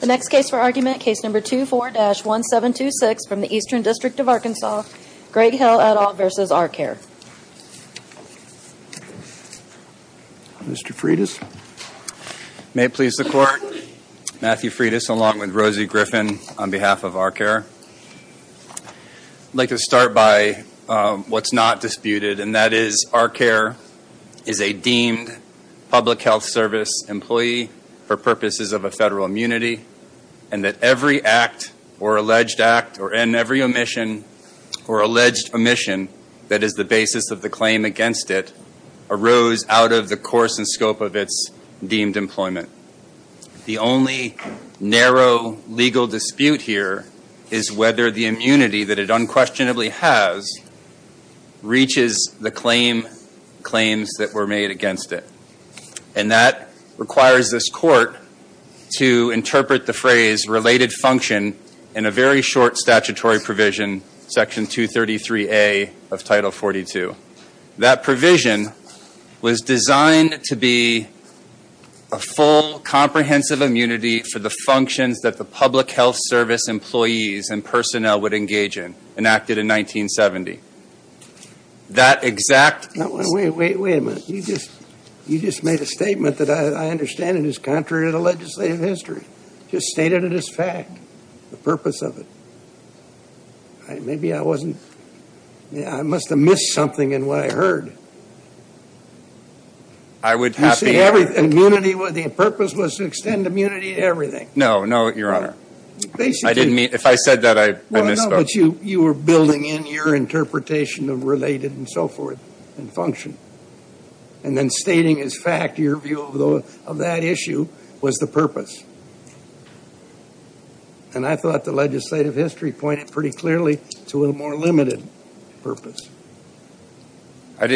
The next case for argument, case number 24-1726 from the Eastern District of Arkansas, Greg Hale et al. v. ARcare. Mr. Freitas? May it please the Court, Matthew Freitas along with Rosie Griffin on behalf of ARcare. I'd like to start by what's not disputed, and that is ARcare is a deemed public health service employee for purposes of a federal immunity, and that every act or alleged act or in every omission or alleged omission that is the basis of the claim against it arose out of the course and scope of its deemed employment. The only narrow legal dispute here is whether the immunity that it unquestionably has reaches the claims that were made against it. And that requires this Court to interpret the phrase related function in a very short statutory provision, section 233A of title 42. That provision was designed to be a full comprehensive immunity for the functions that the public health service employees and personnel would engage in, enacted in 1970. That exact... Now, wait a minute. You just made a statement that I understand is contrary to the legislative history. You just stated it as fact, the purpose of it. Maybe I wasn't... I must have missed something in what I heard. I would have... The purpose was to extend immunity to everything. No, no, Your Honor. I didn't mean... If I said that, I misspoke. You were building in your interpretation of related and so forth and function, and then stating as fact your view of that issue was the purpose. And I thought the legislative history pointed pretty clearly to a more limited purpose. I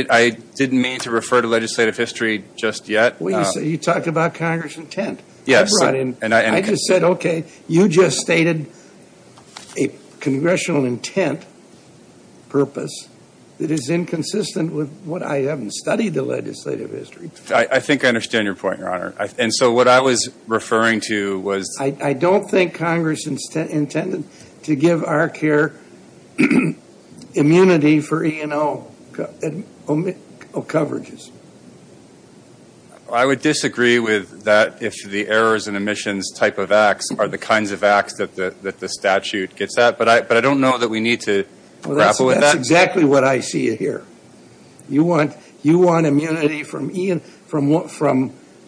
didn't mean to refer to legislative history just yet. Well, you talked about Congress' intent. Yes. I just said, okay, you just stated a congressional intent purpose that is inconsistent with what I haven't studied the legislative history to. I think I understand your point, Your Honor. And so what I was referring to was... I don't think Congress intended to give our care immunity for E&O coverages. I would disagree with that if the errors and omissions type of acts are the kinds of acts that the statute gets at. But I don't know that we need to grapple with that. Well, that's exactly what I see here. You want immunity from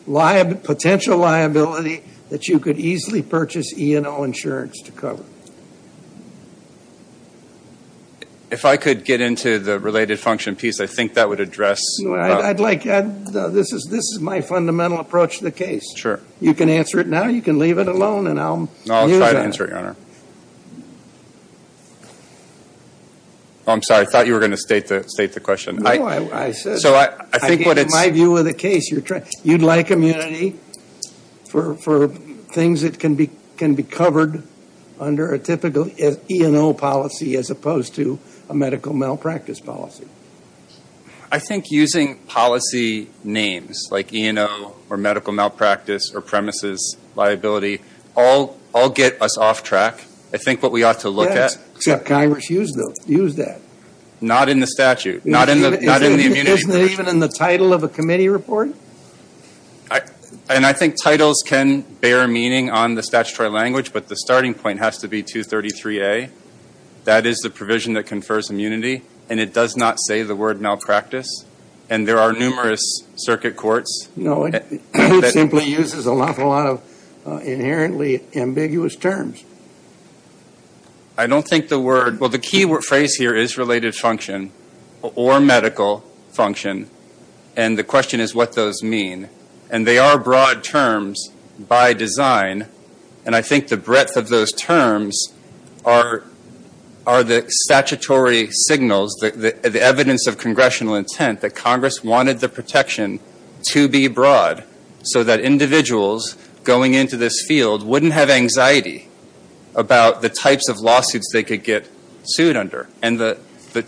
potential liability that you could easily purchase E&O insurance to cover. If I could get into the related function piece, I think that would address... No, I'd like... This is my fundamental approach to the case. Sure. You can answer it now. You can leave it alone, and I'll use it. No, I'll try to answer it, Your Honor. Oh, I'm sorry. I thought you were going to state the question. No, I said... So I think what it's... In my view of the case, you'd like immunity for things that can be covered under a typical E&O policy as opposed to a medical malpractice policy. I think using policy names like E&O or medical malpractice or premises liability all get us off track. I think what we ought to look at... Yes, except Congress used that. Not in the statute. Not in the immunity... Isn't it even in the title of a committee report? And I think titles can bear meaning on the statutory language, but the starting point has to be 233A. That is the provision that confers immunity, and it does not say the word malpractice. And there are numerous circuit courts... No, it simply uses an awful lot of inherently ambiguous terms. I don't think the word... Well, the key phrase here is related function or medical function, and the question is what those mean. And they are broad terms by design, and I think the breadth of those terms are the statutory signals, the evidence of congressional intent that Congress wanted the protection to be broad so that individuals going into this field wouldn't have anxiety about the types of lawsuits they could get sued under. And the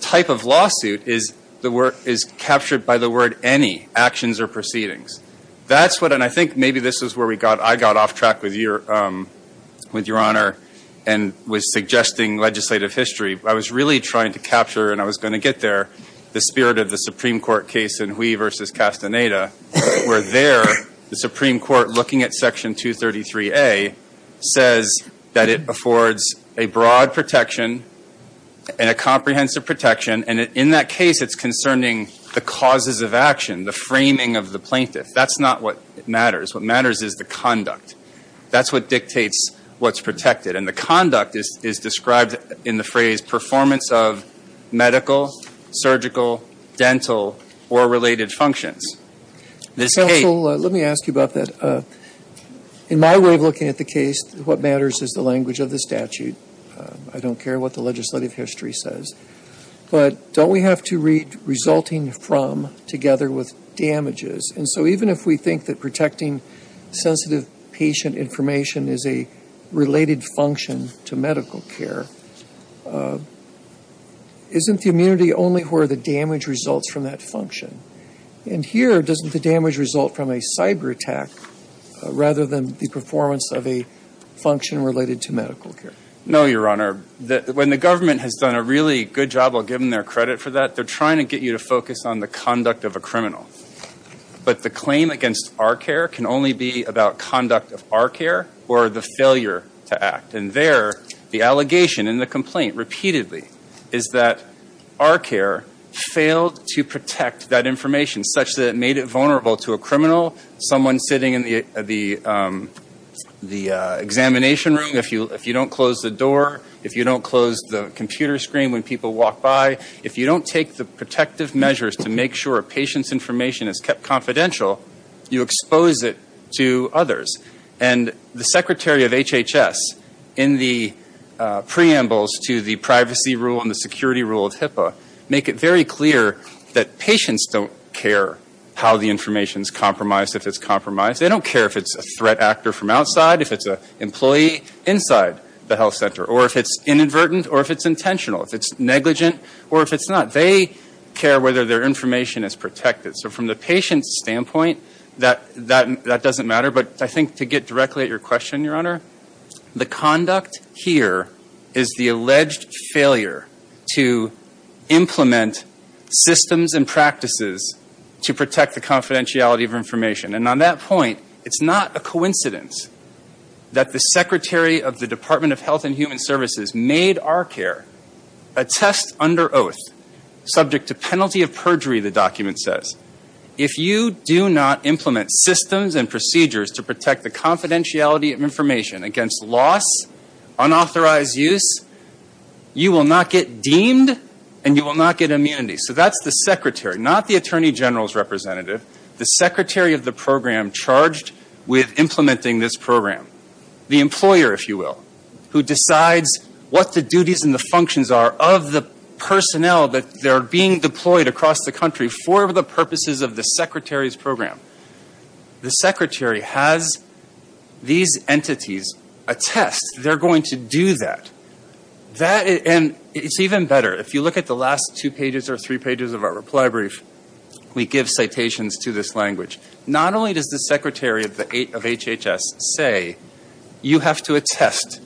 type of lawsuit is captured by the word any, actions or proceedings. That's what... And I think maybe this is where I got off track with Your Honor and was suggesting legislative history. I was really trying to capture, and I was going to get there, the spirit of the Supreme Court case in Hui v. Castaneda, where there the Supreme Court, looking at Section 233A, says that it affords a broad protection and a comprehensive protection. And in that case, it's concerning the causes of action, the framing of the plaintiff. That's not what matters. What matters is the conduct. That's what dictates what's protected. And the conduct is described in the phrase performance of medical, surgical, dental, or related functions. This case... Counsel, let me ask you about that. In my way of looking at the case, what matters is the language of the statute. I don't care what the legislative history says. But don't we have to read resulting from together with damages? And so even if we think that protecting sensitive patient information is a related function to medical care, isn't the immunity only where the damage results from that function? And here, doesn't the damage result from a cyber attack rather than the performance of a function related to medical care? No, Your Honor. When the government has done a really good job of giving their credit for that, they're trying to get you to focus on the conduct of a criminal. But the claim against our care can only be about conduct of our care or the failure to act. And there, the allegation and the complaint repeatedly is that our care failed to protect that information such that it made it vulnerable to a criminal, someone sitting in the examination room, if you don't close the door, if you don't close the computer screen when people walk by, if you don't take the protective measures to make sure a patient's information is kept confidential, you expose it to others. And the Secretary of HHS, in the preambles to the privacy rule and the security rule of HIPAA, make it very clear that patients don't care how the information's compromised, if it's compromised. They don't care if it's a threat actor from outside, if it's an employee inside the health center, or if it's inadvertent, or if it's intentional, if it's negligent, or if it's not. They care whether their information is protected. So from the patient's standpoint, that doesn't matter. But I think to get directly at your question, Your Honor, the conduct here is the alleged failure to implement systems and practices to protect the confidentiality of information. And on that point, it's not a coincidence that the Secretary of the Department of Health and Human Services made our care a test under oath, subject to penalty of perjury, the document says. If you do not implement systems and procedures to protect the confidentiality of information against loss, unauthorized use, you will not get deemed, and you will not get immunity. So that's the Secretary, not the Attorney General's representative. The Secretary of the program charged with implementing this program. The employer, if you will, who decides what the duties and the functions are of the personnel that are being deployed across the country for the purposes of the Secretary's program. The Secretary has these entities attest they're going to do that. And it's even better. If you look at the last two pages or three pages of our reply brief, we give citations to this language. Not only does the Secretary of HHS say you have to attest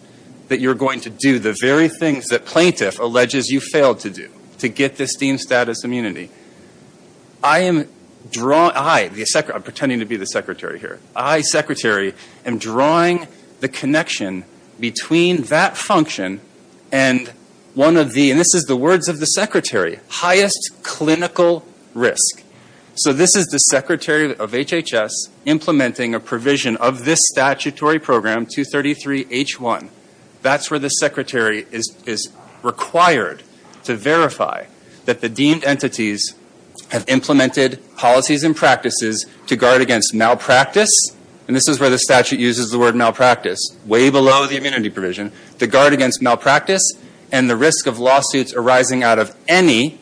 that you're going to do the very things that plaintiff alleges you failed to do to get this deemed status immunity. I, pretending to be the Secretary here, I, Secretary, am drawing the connection between that function and one of the, and this is the words of the Secretary, highest clinical risk. So this is the Secretary of HHS implementing a provision of this statutory program, 233H1. That's where the Secretary is required to verify that the deemed entities have implemented policies and practices to guard against malpractice, and this is where the statute uses the word malpractice, way below the immunity provision, to guard against malpractice and the risk of lawsuits arising out of any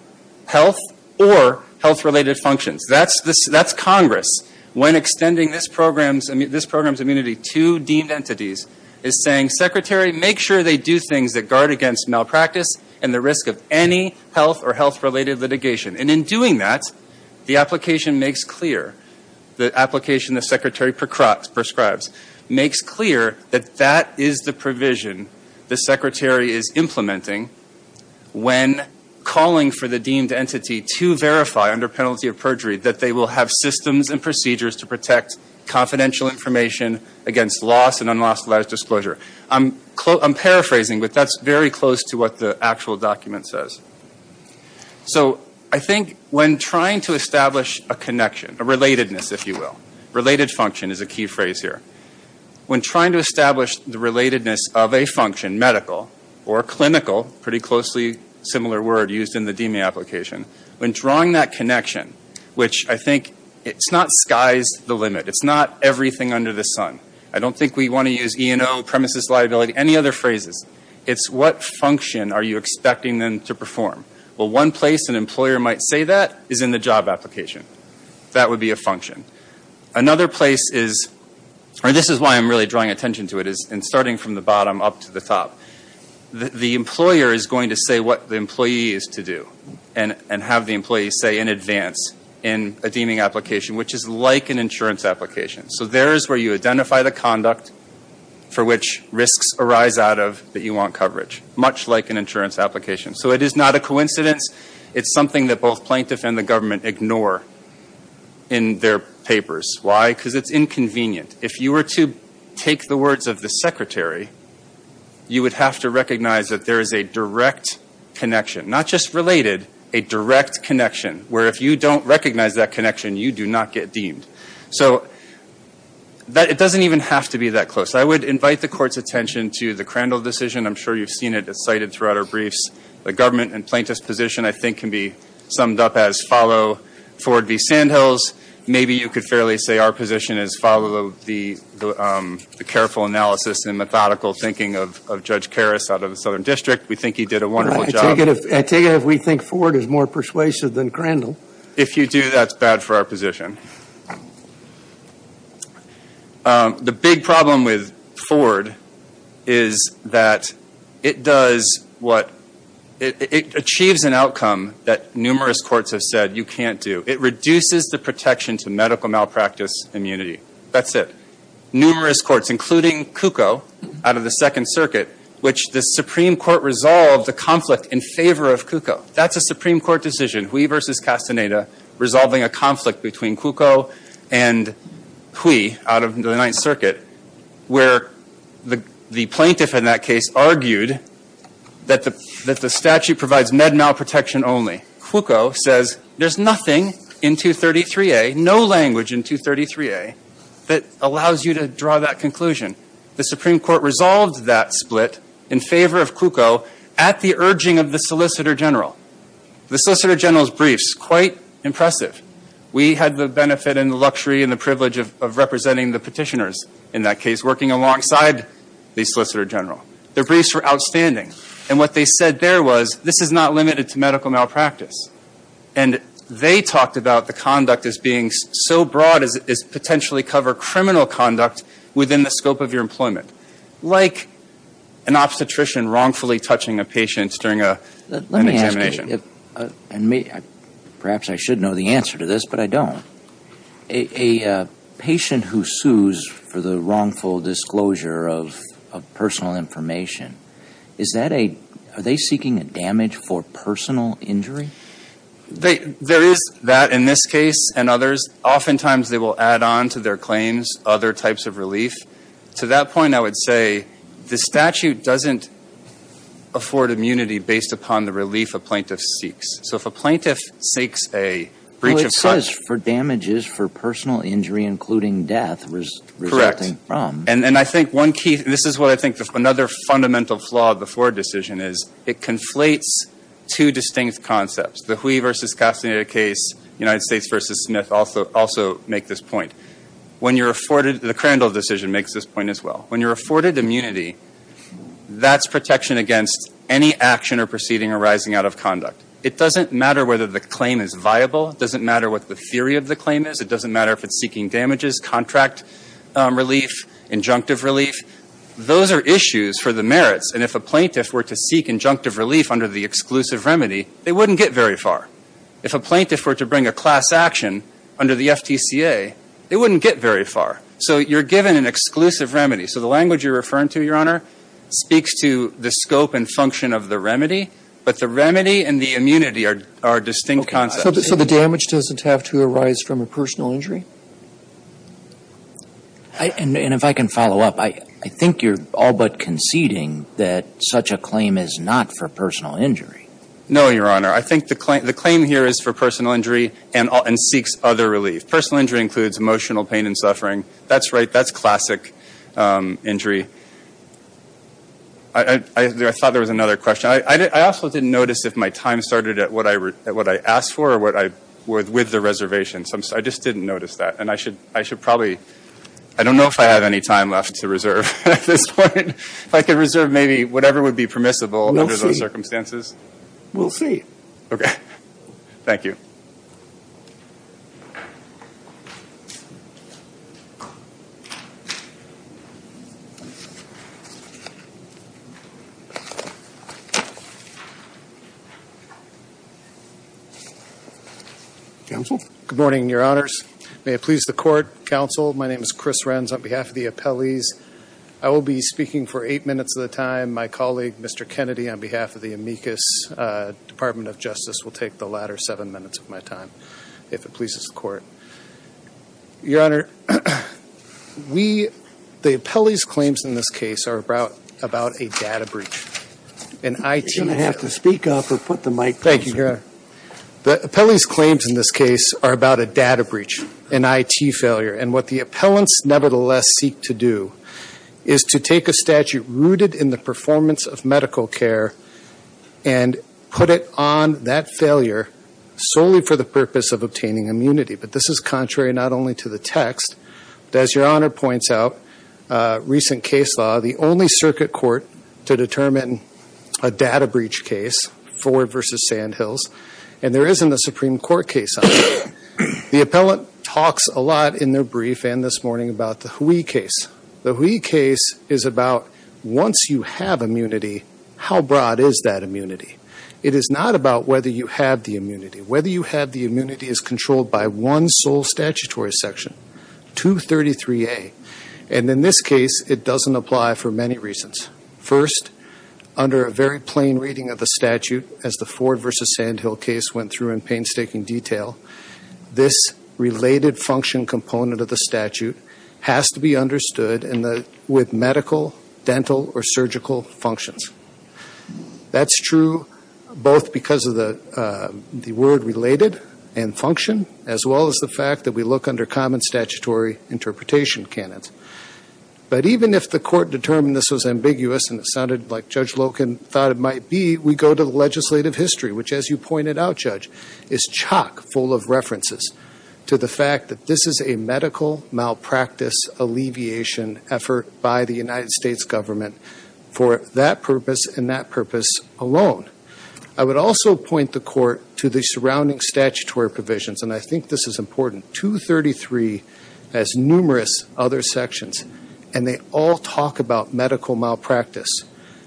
health or health-related functions. That's Congress. When extending this program's immunity to deemed entities is saying, Secretary, make sure they do things that guard against malpractice and the risk of any health or health-related litigation. And in doing that, the application makes clear, the application the Secretary prescribes, makes clear that that is the provision the Secretary is implementing when calling for the deemed entity to verify, under penalty of perjury, that they will have systems and procedures to protect confidential information against loss and unlawful disclosure. I'm paraphrasing, but that's very close to what the actual document says. So, I think when trying to establish a connection, a relatedness, if you will. Related function is a key phrase here. When trying to establish the relatedness of a function, medical, or clinical, pretty closely similar word used in the deeming application, when drawing that connection, which I think, it's not skies the limit. It's not everything under the sun. I don't think we want to use E&O, premises liability, any other phrases. It's what function are you expecting them to perform? Well, one place an employer might say that is in the job application. That would be a function. Another place is, and this is why I'm really drawing attention to it, is in starting from the bottom up to the top. The employer is going to say what the employee is to do, and have the employee say in advance in a deeming application, which is like an insurance application. So, there is where you identify the conduct for which risks arise out of that you want coverage. Much like an insurance application. So, it is not a coincidence. It's something that both plaintiff and the government ignore in their papers. Why? Because it's inconvenient. If you were to take the words of the secretary, you would have to recognize that there is a direct connection. Not just related, a direct connection. Where if you don't recognize that connection, you do not get deemed. It doesn't even have to be that close. I would invite the court's attention to the Crandall decision. I'm sure you've seen it cited throughout our briefs. The government and plaintiff's position I think can be summed up as follow Ford v. Sandhills. Maybe you could fairly say our position is follow the careful analysis and methodical thinking of Judge Karras out of the Southern District. We think he did a wonderful job. I take it if we think Ford is more persuasive than Crandall. If you do, that's bad for our position. The big problem with Ford is that it does what, it achieves an outcome that numerous courts have said you can't do. It reduces the protection to medical malpractice immunity. That's it. Numerous courts, including Cucco out of the Second Circuit, which the Supreme Court resolved the conflict in favor of Cucco. That's a Supreme Court decision. Hui v. Castaneda resolving a conflict between Cucco and Hui out of the Ninth Circuit where the plaintiff in that case argued that the statute provides med malprotection only. Cucco says there's nothing in 233A, no language in 233A that allows you to draw that conclusion. The Supreme Court resolved that split in favor of Cucco at the urging of the Solicitor General. The Solicitor General's briefs, quite impressive. We had the benefit and the luxury and the privilege of representing the petitioners in that case, working alongside the Solicitor General. Their briefs were outstanding and what they said there was, this is not limited to medical malpractice. And they talked about the conduct as being so broad as potentially cover criminal conduct within the scope of your employment. Like an obstetrician wrongfully touching a patient during an examination. Perhaps I should know the answer to this, but I don't. A patient who sues for the wrongful disclosure of personal information, is that a, are they seeking a damage for personal injury? There is that in this case and others. Oftentimes they will add on to their claims other types of relief. To that point I would say the statute doesn't afford immunity based upon the relief a plaintiff seeks. So if a plaintiff seeks a breach of trust. Well it says for damages for personal injury including death resulting from. Correct. And I think one key, this is what I think another fundamental flaw of the Ford decision is. It conflates two distinct concepts. The Hui v. Castaneda case, United States v. Smith also make this point. When you're afforded, the Crandall decision makes this point as well. When you're afforded immunity, that's protection against any action or proceeding arising out of conduct. It doesn't matter whether the claim is viable. It doesn't matter what the theory of the claim is. It doesn't matter if it's taking damages, contract relief, injunctive relief. Those are issues for the merits and if a plaintiff were to seek injunctive relief under the exclusive remedy, they wouldn't get very far. If a plaintiff were to bring a class action under the FTCA, they wouldn't get very far. So you're given an exclusive remedy. So the language you're referring to, Your Honor, speaks to the scope and function of the remedy. But the remedy and the immunity are distinct concepts. So the damage doesn't have to arise from a personal injury. And if I can follow up, I think you're all but conceding that such a claim is not for personal injury. No, Your Honor. I think the claim here is for personal injury and seeks other relief. Personal injury includes emotional pain and suffering. That's right. That's classic injury. I thought there was another question. I also didn't notice if my time started at what I asked for or with the reservation. I just didn't notice that. I don't know if I have any time left to reserve at this point. If I could reserve maybe whatever would be permissible under those circumstances. We'll see. Thank you. Counsel? Good morning, Your Honors. May it please the Court. Counsel, my name is Chris Renz on behalf of the appellees. I will be speaking for eight minutes at a time. My colleague Mr. Kennedy on behalf of the amicus Department of Justice will take the latter seven minutes of my time if it pleases the Court. Your Honor, the appellee's claims in this case are about a data breach. You're going to have to speak up and put the mic down. Thank you, Your Honor. The appellee's claims in this case are about a data breach, an IT failure. And what the appellants nevertheless seek to do is to take a statute rooted in the performance of medical care and put it on that failure solely for the purpose of obtaining immunity. But this is contrary not only to the text but as Your Honor points out, recent case law, the only circuit court to determine a data breach case, Ford v. Sandhills, and there isn't a Supreme Court case on it. The appellant talks a lot in their brief and this morning about the Hui case. The Hui case is about once you have immunity, how broad is that immunity? It is not about whether you have the immunity. Whether you have the immunity is controlled by one sole statutory section, 233A, and in this case it doesn't apply for many reasons. First, under a very plain reading of the statute as the Ford v. Sandhill case went through in painstaking detail, this related function component of the statute has to be understood with medical, dental, or surgical functions. That's true both because of the word related and function as well as the fact that we look under common statutory interpretation canons. But even if the court determined this was ambiguous and it sounded like Judge Loken thought it might be, we go to the legislative history, which as you pointed out, Judge, is chock full of references to the fact that this is a medical malpractice alleviation effort by the United States government for that purpose and that purpose alone. I would also point the court to the surrounding statutory provisions and I think this is important. 233 has numerous other sections and they all talk about medical malpractice.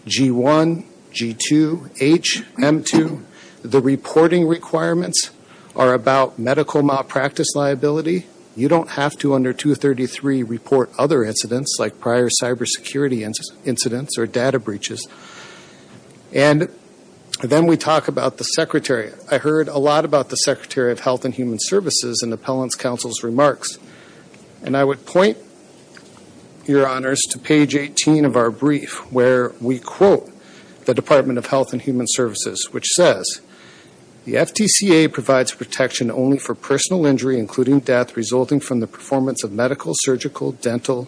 G1, G2, H, M2, the reporting requirements are about medical malpractice liability. You don't have to under 233 report other incidents like prior cybersecurity incidents or data breaches. And then we talk about the Secretary. I heard a lot about the Secretary of Health and Human Services in Appellant's Counsel's remarks. And I would point, Your Honors, to page 18 of our brief where we quote the Department of Health and Human Services, which says the FTCA provides protection only for personal injury including death resulting from the performance of medical, surgical, dental,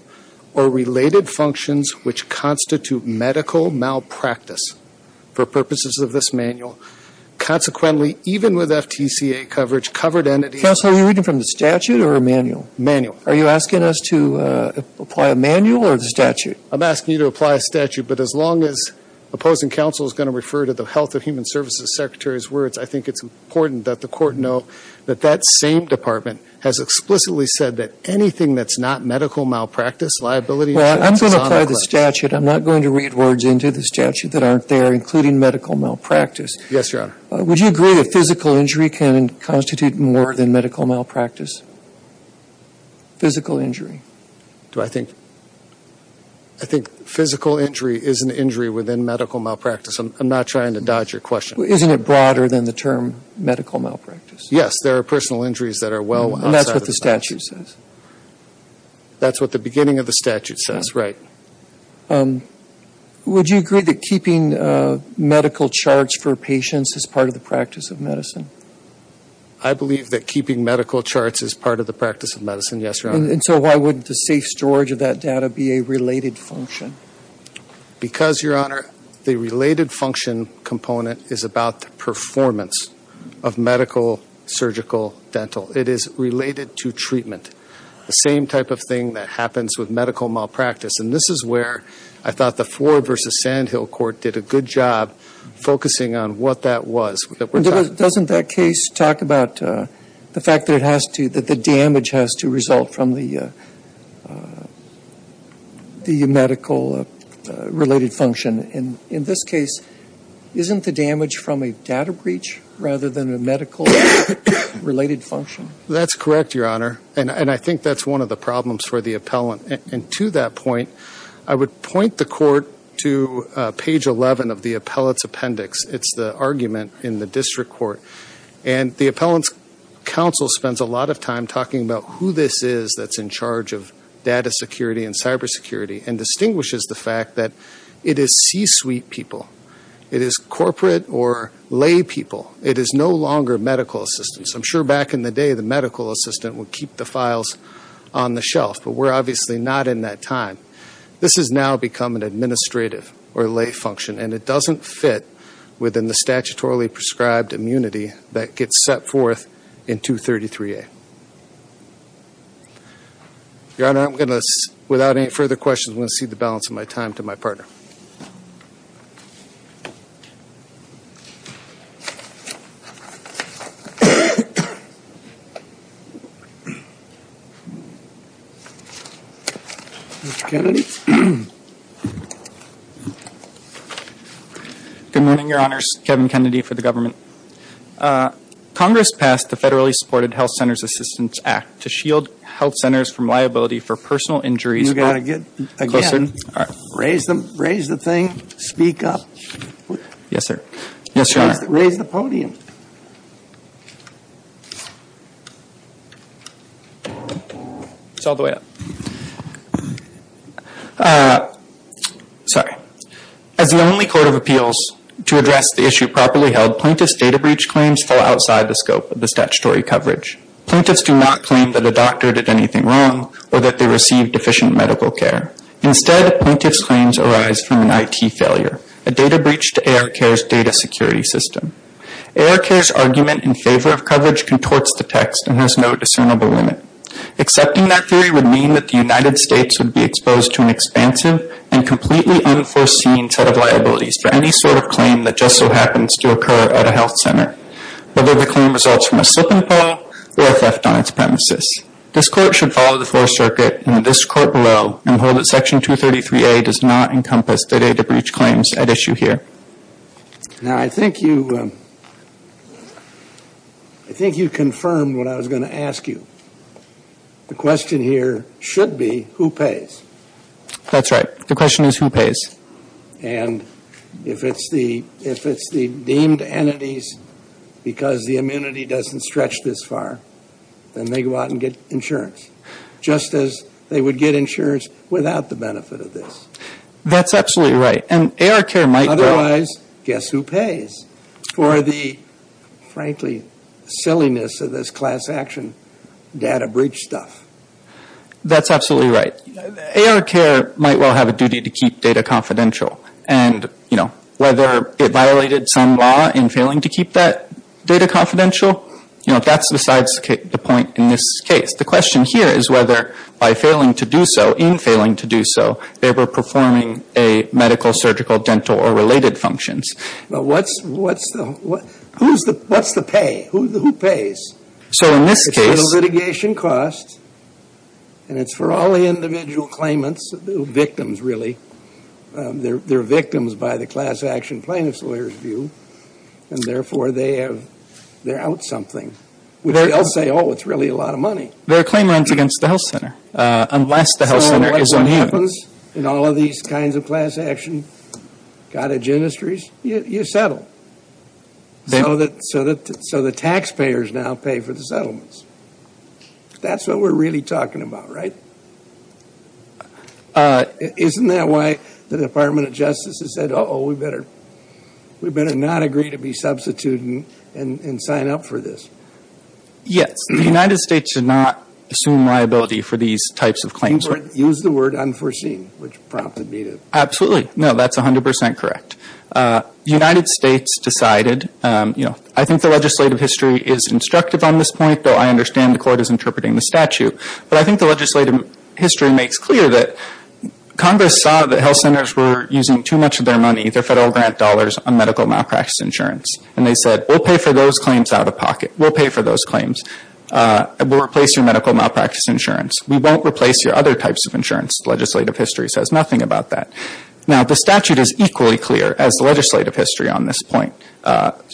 or related functions which constitute medical malpractice for purposes of this manual. Consequently, even with FTCA coverage, covered entities... Counsel, are you reading from the statute or a manual? Manual. Are you asking us to apply a manual or the statute? I'm asking you to apply a statute, but as long as opposing counsel is going to refer to the Health and Human Services Secretary's words, I think it's important that the court know that that same department has explicitly said that anything that's not medical malpractice, liability... Well, I'm going to apply the statute. I'm not going to read words into the statute that aren't there, including medical malpractice. Yes, Your Honor. Would you agree that physical injury can constitute more than medical malpractice? Physical injury. Do I think... I think physical injury is an injury within medical malpractice. I'm not trying to dodge your question. Isn't it broader than the term medical malpractice? Yes, there are personal injuries that are well outside of the statute. And that's what the statute says? That's what the beginning of the statute says, right. Would you agree that keeping medical charts for patients is part of the practice of medicine? I believe that keeping medical charts is part of the practice of medicine, yes, Your Honor. And so why wouldn't the safe storage of that data be a related function? Because, Your Honor, the related function component is about the performance of medical surgical dental. It is related to treatment. The same type of thing that happens with medical malpractice. And this is where I thought the Floor v. Sandhill Court did a good job focusing on what that was. Doesn't that case talk about the fact that it has to, that the damage has to result from the medical related function? In this case, isn't the damage from a data breach rather than a medical related function? That's correct, Your Honor. And I think that's one of the problems for the appellant. And to that point, I would point the court to page 11 of the appellant's appendix. It's the argument in the district court. And the appellant's counsel spends a lot of time talking about who this is that's in charge of data security and cyber security and distinguishes the fact that it is C-suite people. It is corporate or lay people. It is no longer medical assistants. I'm sure back in the day, the medical assistant would keep the files on the shelf. But we're obviously not in that time. This has now become an administrative or lay function. And it doesn't fit within the statutorily prescribed immunity that gets set forth in 233A. Your Honor, I'm going to, without any further questions, I'm going to cede the balance of my time to my partner. Mr. Kennedy? Good morning, Your Honors. Kevin Kennedy for the government. Congress passed the federally supported Health Centers Assistance Act to shield health centers from liability for personal injuries. Raise the thing. Speak up. Yes, sir. Yes, Your Honor. Raise the podium. It's all the way up. Sorry. As the only court of appeals to address the issue properly held, plaintiffs' data breach claims fall outside the scope of the statutory coverage. Plaintiffs do not claim that a doctor did anything wrong or that they received deficient medical care. Instead, plaintiffs' claims arise from an IT failure, a data breach to AR Care's data security system. AR Care's argument in favor of coverage contorts the text and has no discernible limit. Accepting that theory would mean that the United States would be exposed to an expansive and completely unforeseen set of liabilities for any sort of claim that just so happens to occur at a health center. Whether the claim results from a slip and fall or a theft on its premises, this Court should follow the Fourth Circuit and this Court below and hold that Section 233A does not encompass the data breach claims at issue here. Now, I think you I think you confirmed what I was going to ask you. The question here should be who pays. That's right. The question is who pays. And if it's the deemed entities because the immunity doesn't stretch this far, then they go out and get insurance just as they would get insurance without the benefit of this. That's absolutely right. Otherwise, guess who pays for the, frankly, silliness of this class action data breach stuff? That's absolutely right. AR Care might well have a duty to keep data confidential and, you know, whether it violated some law in failing to keep that data confidential, you know, that's besides the point in this case. The question here is whether by failing to do so, in failing to do so, they were performing a medical, surgical, dental, or related functions. What's the pay? Who pays? So in this case, it's litigation costs and it's for all the individual claimants who are victims, really. They're victims by the class action plaintiff's lawyer's view and, therefore, they're out something which they'll say, oh, it's really a lot of money. They're claimants against the health center unless the health center is on you. So unless it happens in all of these kinds of class action cottage industries, you settle. So the taxpayers now pay for the settlements. That's what we're really talking about, right? Isn't that why the Department of Justice has said, uh-oh, we better not agree to be substituted and sign up for this? Yes. The United States did not assume liability for these types of claims. Use the word unforeseen which prompted me to. Absolutely. No, that's 100 percent correct. The United States decided, you know, I think the legislative history is instructive on this point, though I understand the court is interpreting the statute. But I think the legislative history makes clear that Congress saw that health centers were using too much of their money, their federal grant dollars, on medical malpractice insurance. And they said, we'll pay for those claims out of pocket. We'll pay for those claims. We'll replace your medical malpractice insurance. We won't replace your other types of insurance. The legislative history says nothing about that. Now, the statute is equally clear as the legislative history on this point.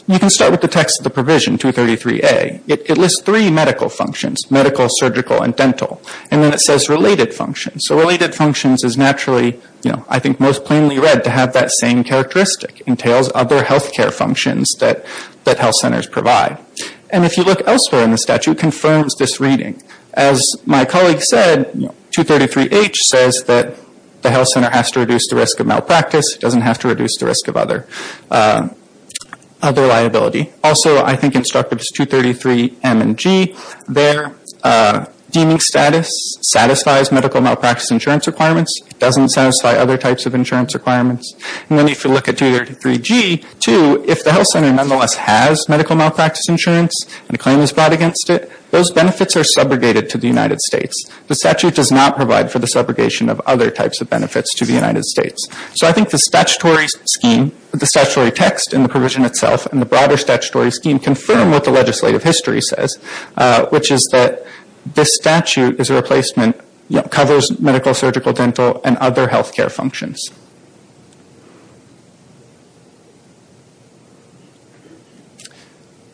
You can start with the text of the provision, 233A. It lists three medical functions. Medical, surgical, and dental. And then it says related functions. So related functions is naturally, you know, I think most plainly read to have that same characteristic. It entails other health care functions that health centers provide. And if you look elsewhere in the statute, it confirms this reading. As my colleague said, 233H says that the health center has to reduce the risk of malpractice. It doesn't have to reduce the risk of other liability. Also, I think in Structures 233M and G, their deeming status satisfies medical malpractice insurance requirements. It doesn't satisfy other types of insurance requirements. And then if you look at 233G, too, if the health center nonetheless has medical malpractice insurance and a claim is brought against it, those benefits are subrogated to the United States. The statute does not provide for the subrogation of other types of benefits to the United States. So I think the statutory scheme, the statutory text and the provision itself, and the broader statutory scheme confirm what the legislative history says, which is that this statute is a replacement, you know, covers medical, surgical, dental, and other health care functions.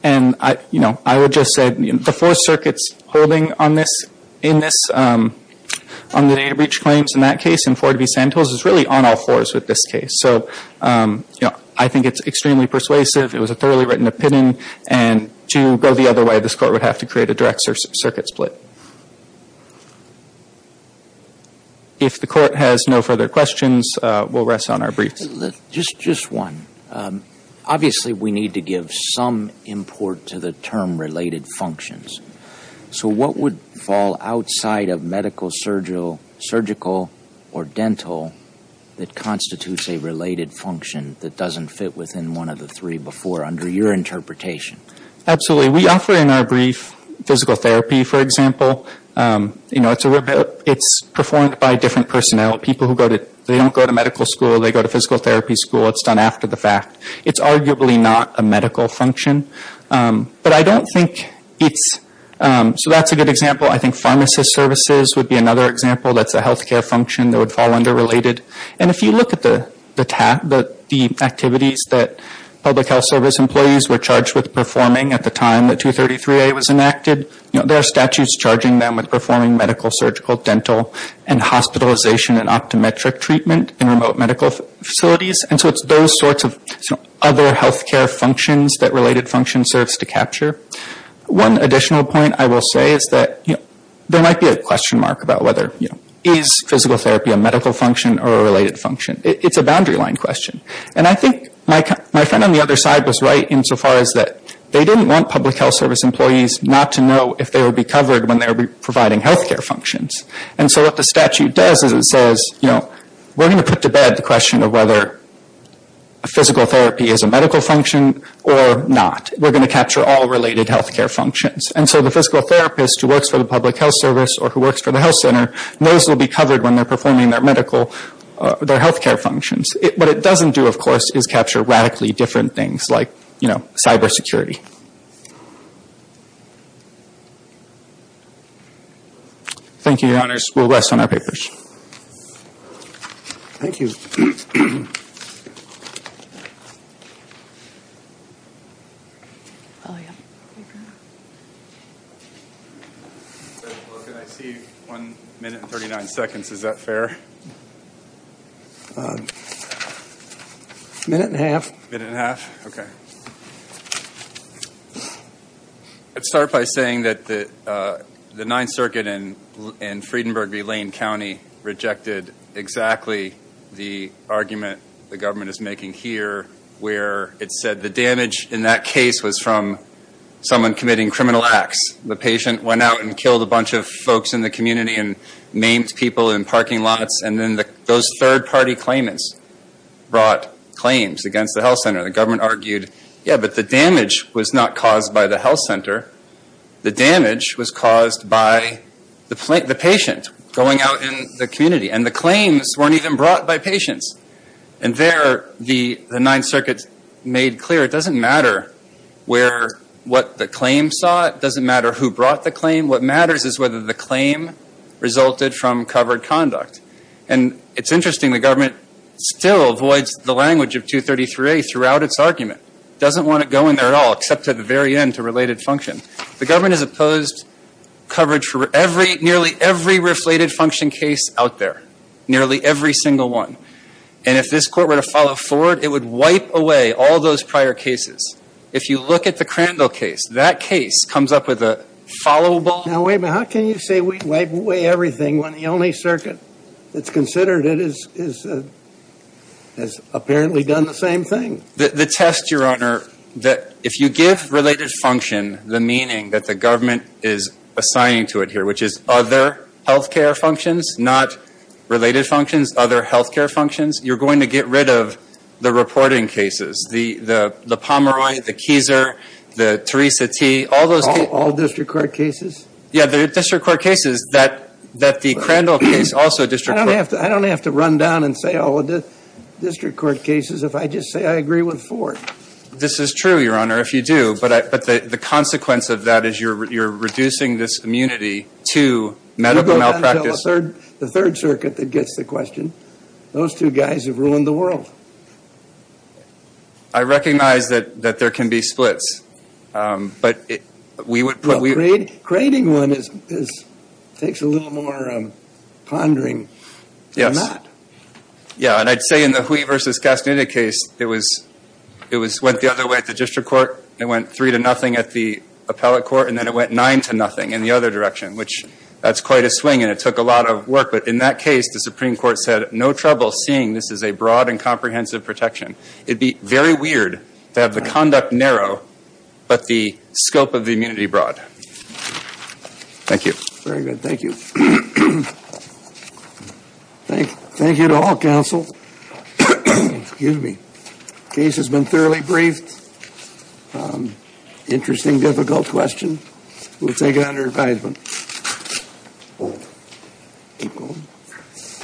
And, you know, I would just say the four circuits holding on this on the data breach claims in that case and four to be sampled is really on all fours with this case. So, you know, I think it's extremely persuasive. It was a thoroughly written opinion. And to go the other way, this court would have to create a direct circuit split. If the court has no further questions, we'll rest on our briefs. Just one. Obviously, we need to give some import to the term related functions. So what would fall outside of medical, surgical, or dental that constitutes a related function that doesn't fit within one of the three before, under your interpretation? Absolutely. We offer in our brief physical therapy, for example. You know, it's performed by different personnel. People who go to, they don't go to medical school. They go to physical therapy school. It's done after the fact. It's arguably not a medical function. But I don't think it's, so that's a good example. I think pharmacist services would be another example. That's a health care function that would fall under related. And if you look at the activities that public health service employees were charged with performing at the time that 233A was enacted, there are statutes charging them with performing medical, surgical, dental, and hospitalization and optometric treatment in remote medical facilities. And so it's those sorts of other health care functions that related function serves to capture. One additional point I will say is that there might be a question mark about whether, you know, is physical therapy a medical function or a related function? It's a boundary line question. And I think my friend on the other side was right insofar as that they didn't want public health service employees not to know if they would be covered when they were providing health care functions. And so what the statute does is it says, you know, we're going to put to bed the question of whether physical therapy is a medical function or not. We're going to capture all related health care functions. And so the physical therapist who works for the public health service or who works for the health center knows they'll be covered when they're performing their medical, their health care functions. What it doesn't do, of course, is capture radically different things like, you know, cyber security. Thank you, your honors. We'll rest on our papers. Thank you. Can I see one minute and 39 seconds? Is that fair? A minute and a half. A minute and a half? Okay. I'd start by saying that the Ninth Circuit in Friedenburg v. Lane County rejected exactly the argument the government is making here where it said the damage in that case was from someone committing criminal acts. The patient went out and killed a bunch of folks in the community and maimed people in parking lots. And then those third party claimants brought claims against the health center. The government argued, yeah, but the damage was not caused by the health center. The damage was caused by the patient going out in the community. And the claims weren't even brought by patients. And there the Ninth Circuit made clear it doesn't matter where, what the claim sought. It doesn't matter who brought the claim. What matters is whether the claim resulted from covered conduct. And it's interesting, the government still avoids the language of 233A throughout its argument. Doesn't want to go in there at all except to the very end to say it's related function. The government has opposed coverage for nearly every reflated function case out there. Nearly every single one. And if this court were to follow forward, it would wipe away all those prior cases. If you look at the Crandall case, that case comes up with a followable Now wait a minute, how can you say we wipe away everything when the only circuit that's considered it has apparently done the same thing? The test, Your Honor, that if you give related function the meaning that the government is assigning to it here, which is other health care functions, not related functions, other health care functions, you're going to get rid of the reporting cases. The, the, the Pomeroy, the Keiser, the Teresa T, all those All, all district court cases? Yeah, the district court cases that, that the Crandall case also district court I don't have to, I don't have to run down and say all the district court cases if I just say I agree with Ford. This is true, Your Honor, if you do. But I, but the consequence of that is you're, you're reducing this immunity to medical malpractice. You go down to the third, the third circuit that gets the question. Those two guys have ruined the world. I recognize that, that there can be splits. But we would, we would. Well, creating, creating one is, is takes a little more pondering than not. Yes. Yeah, and I'd say in the Hui versus Castaneda case, it was went the other way at the district court. It went three to nothing at the appellate court, and then it went nine to nothing in the other direction, which, that's quite a swing, and it took a lot of work. But in that case, the Supreme Court said, no trouble seeing this as a broad and comprehensive protection. It'd be very weird to have the conduct narrow, but the scope of the immunity broad. Thank you. Very good. Thank you. Thank you. Thank you to all counsel. Excuse me. Case has been thoroughly briefed. Interesting, difficult question. We'll take it under advisement.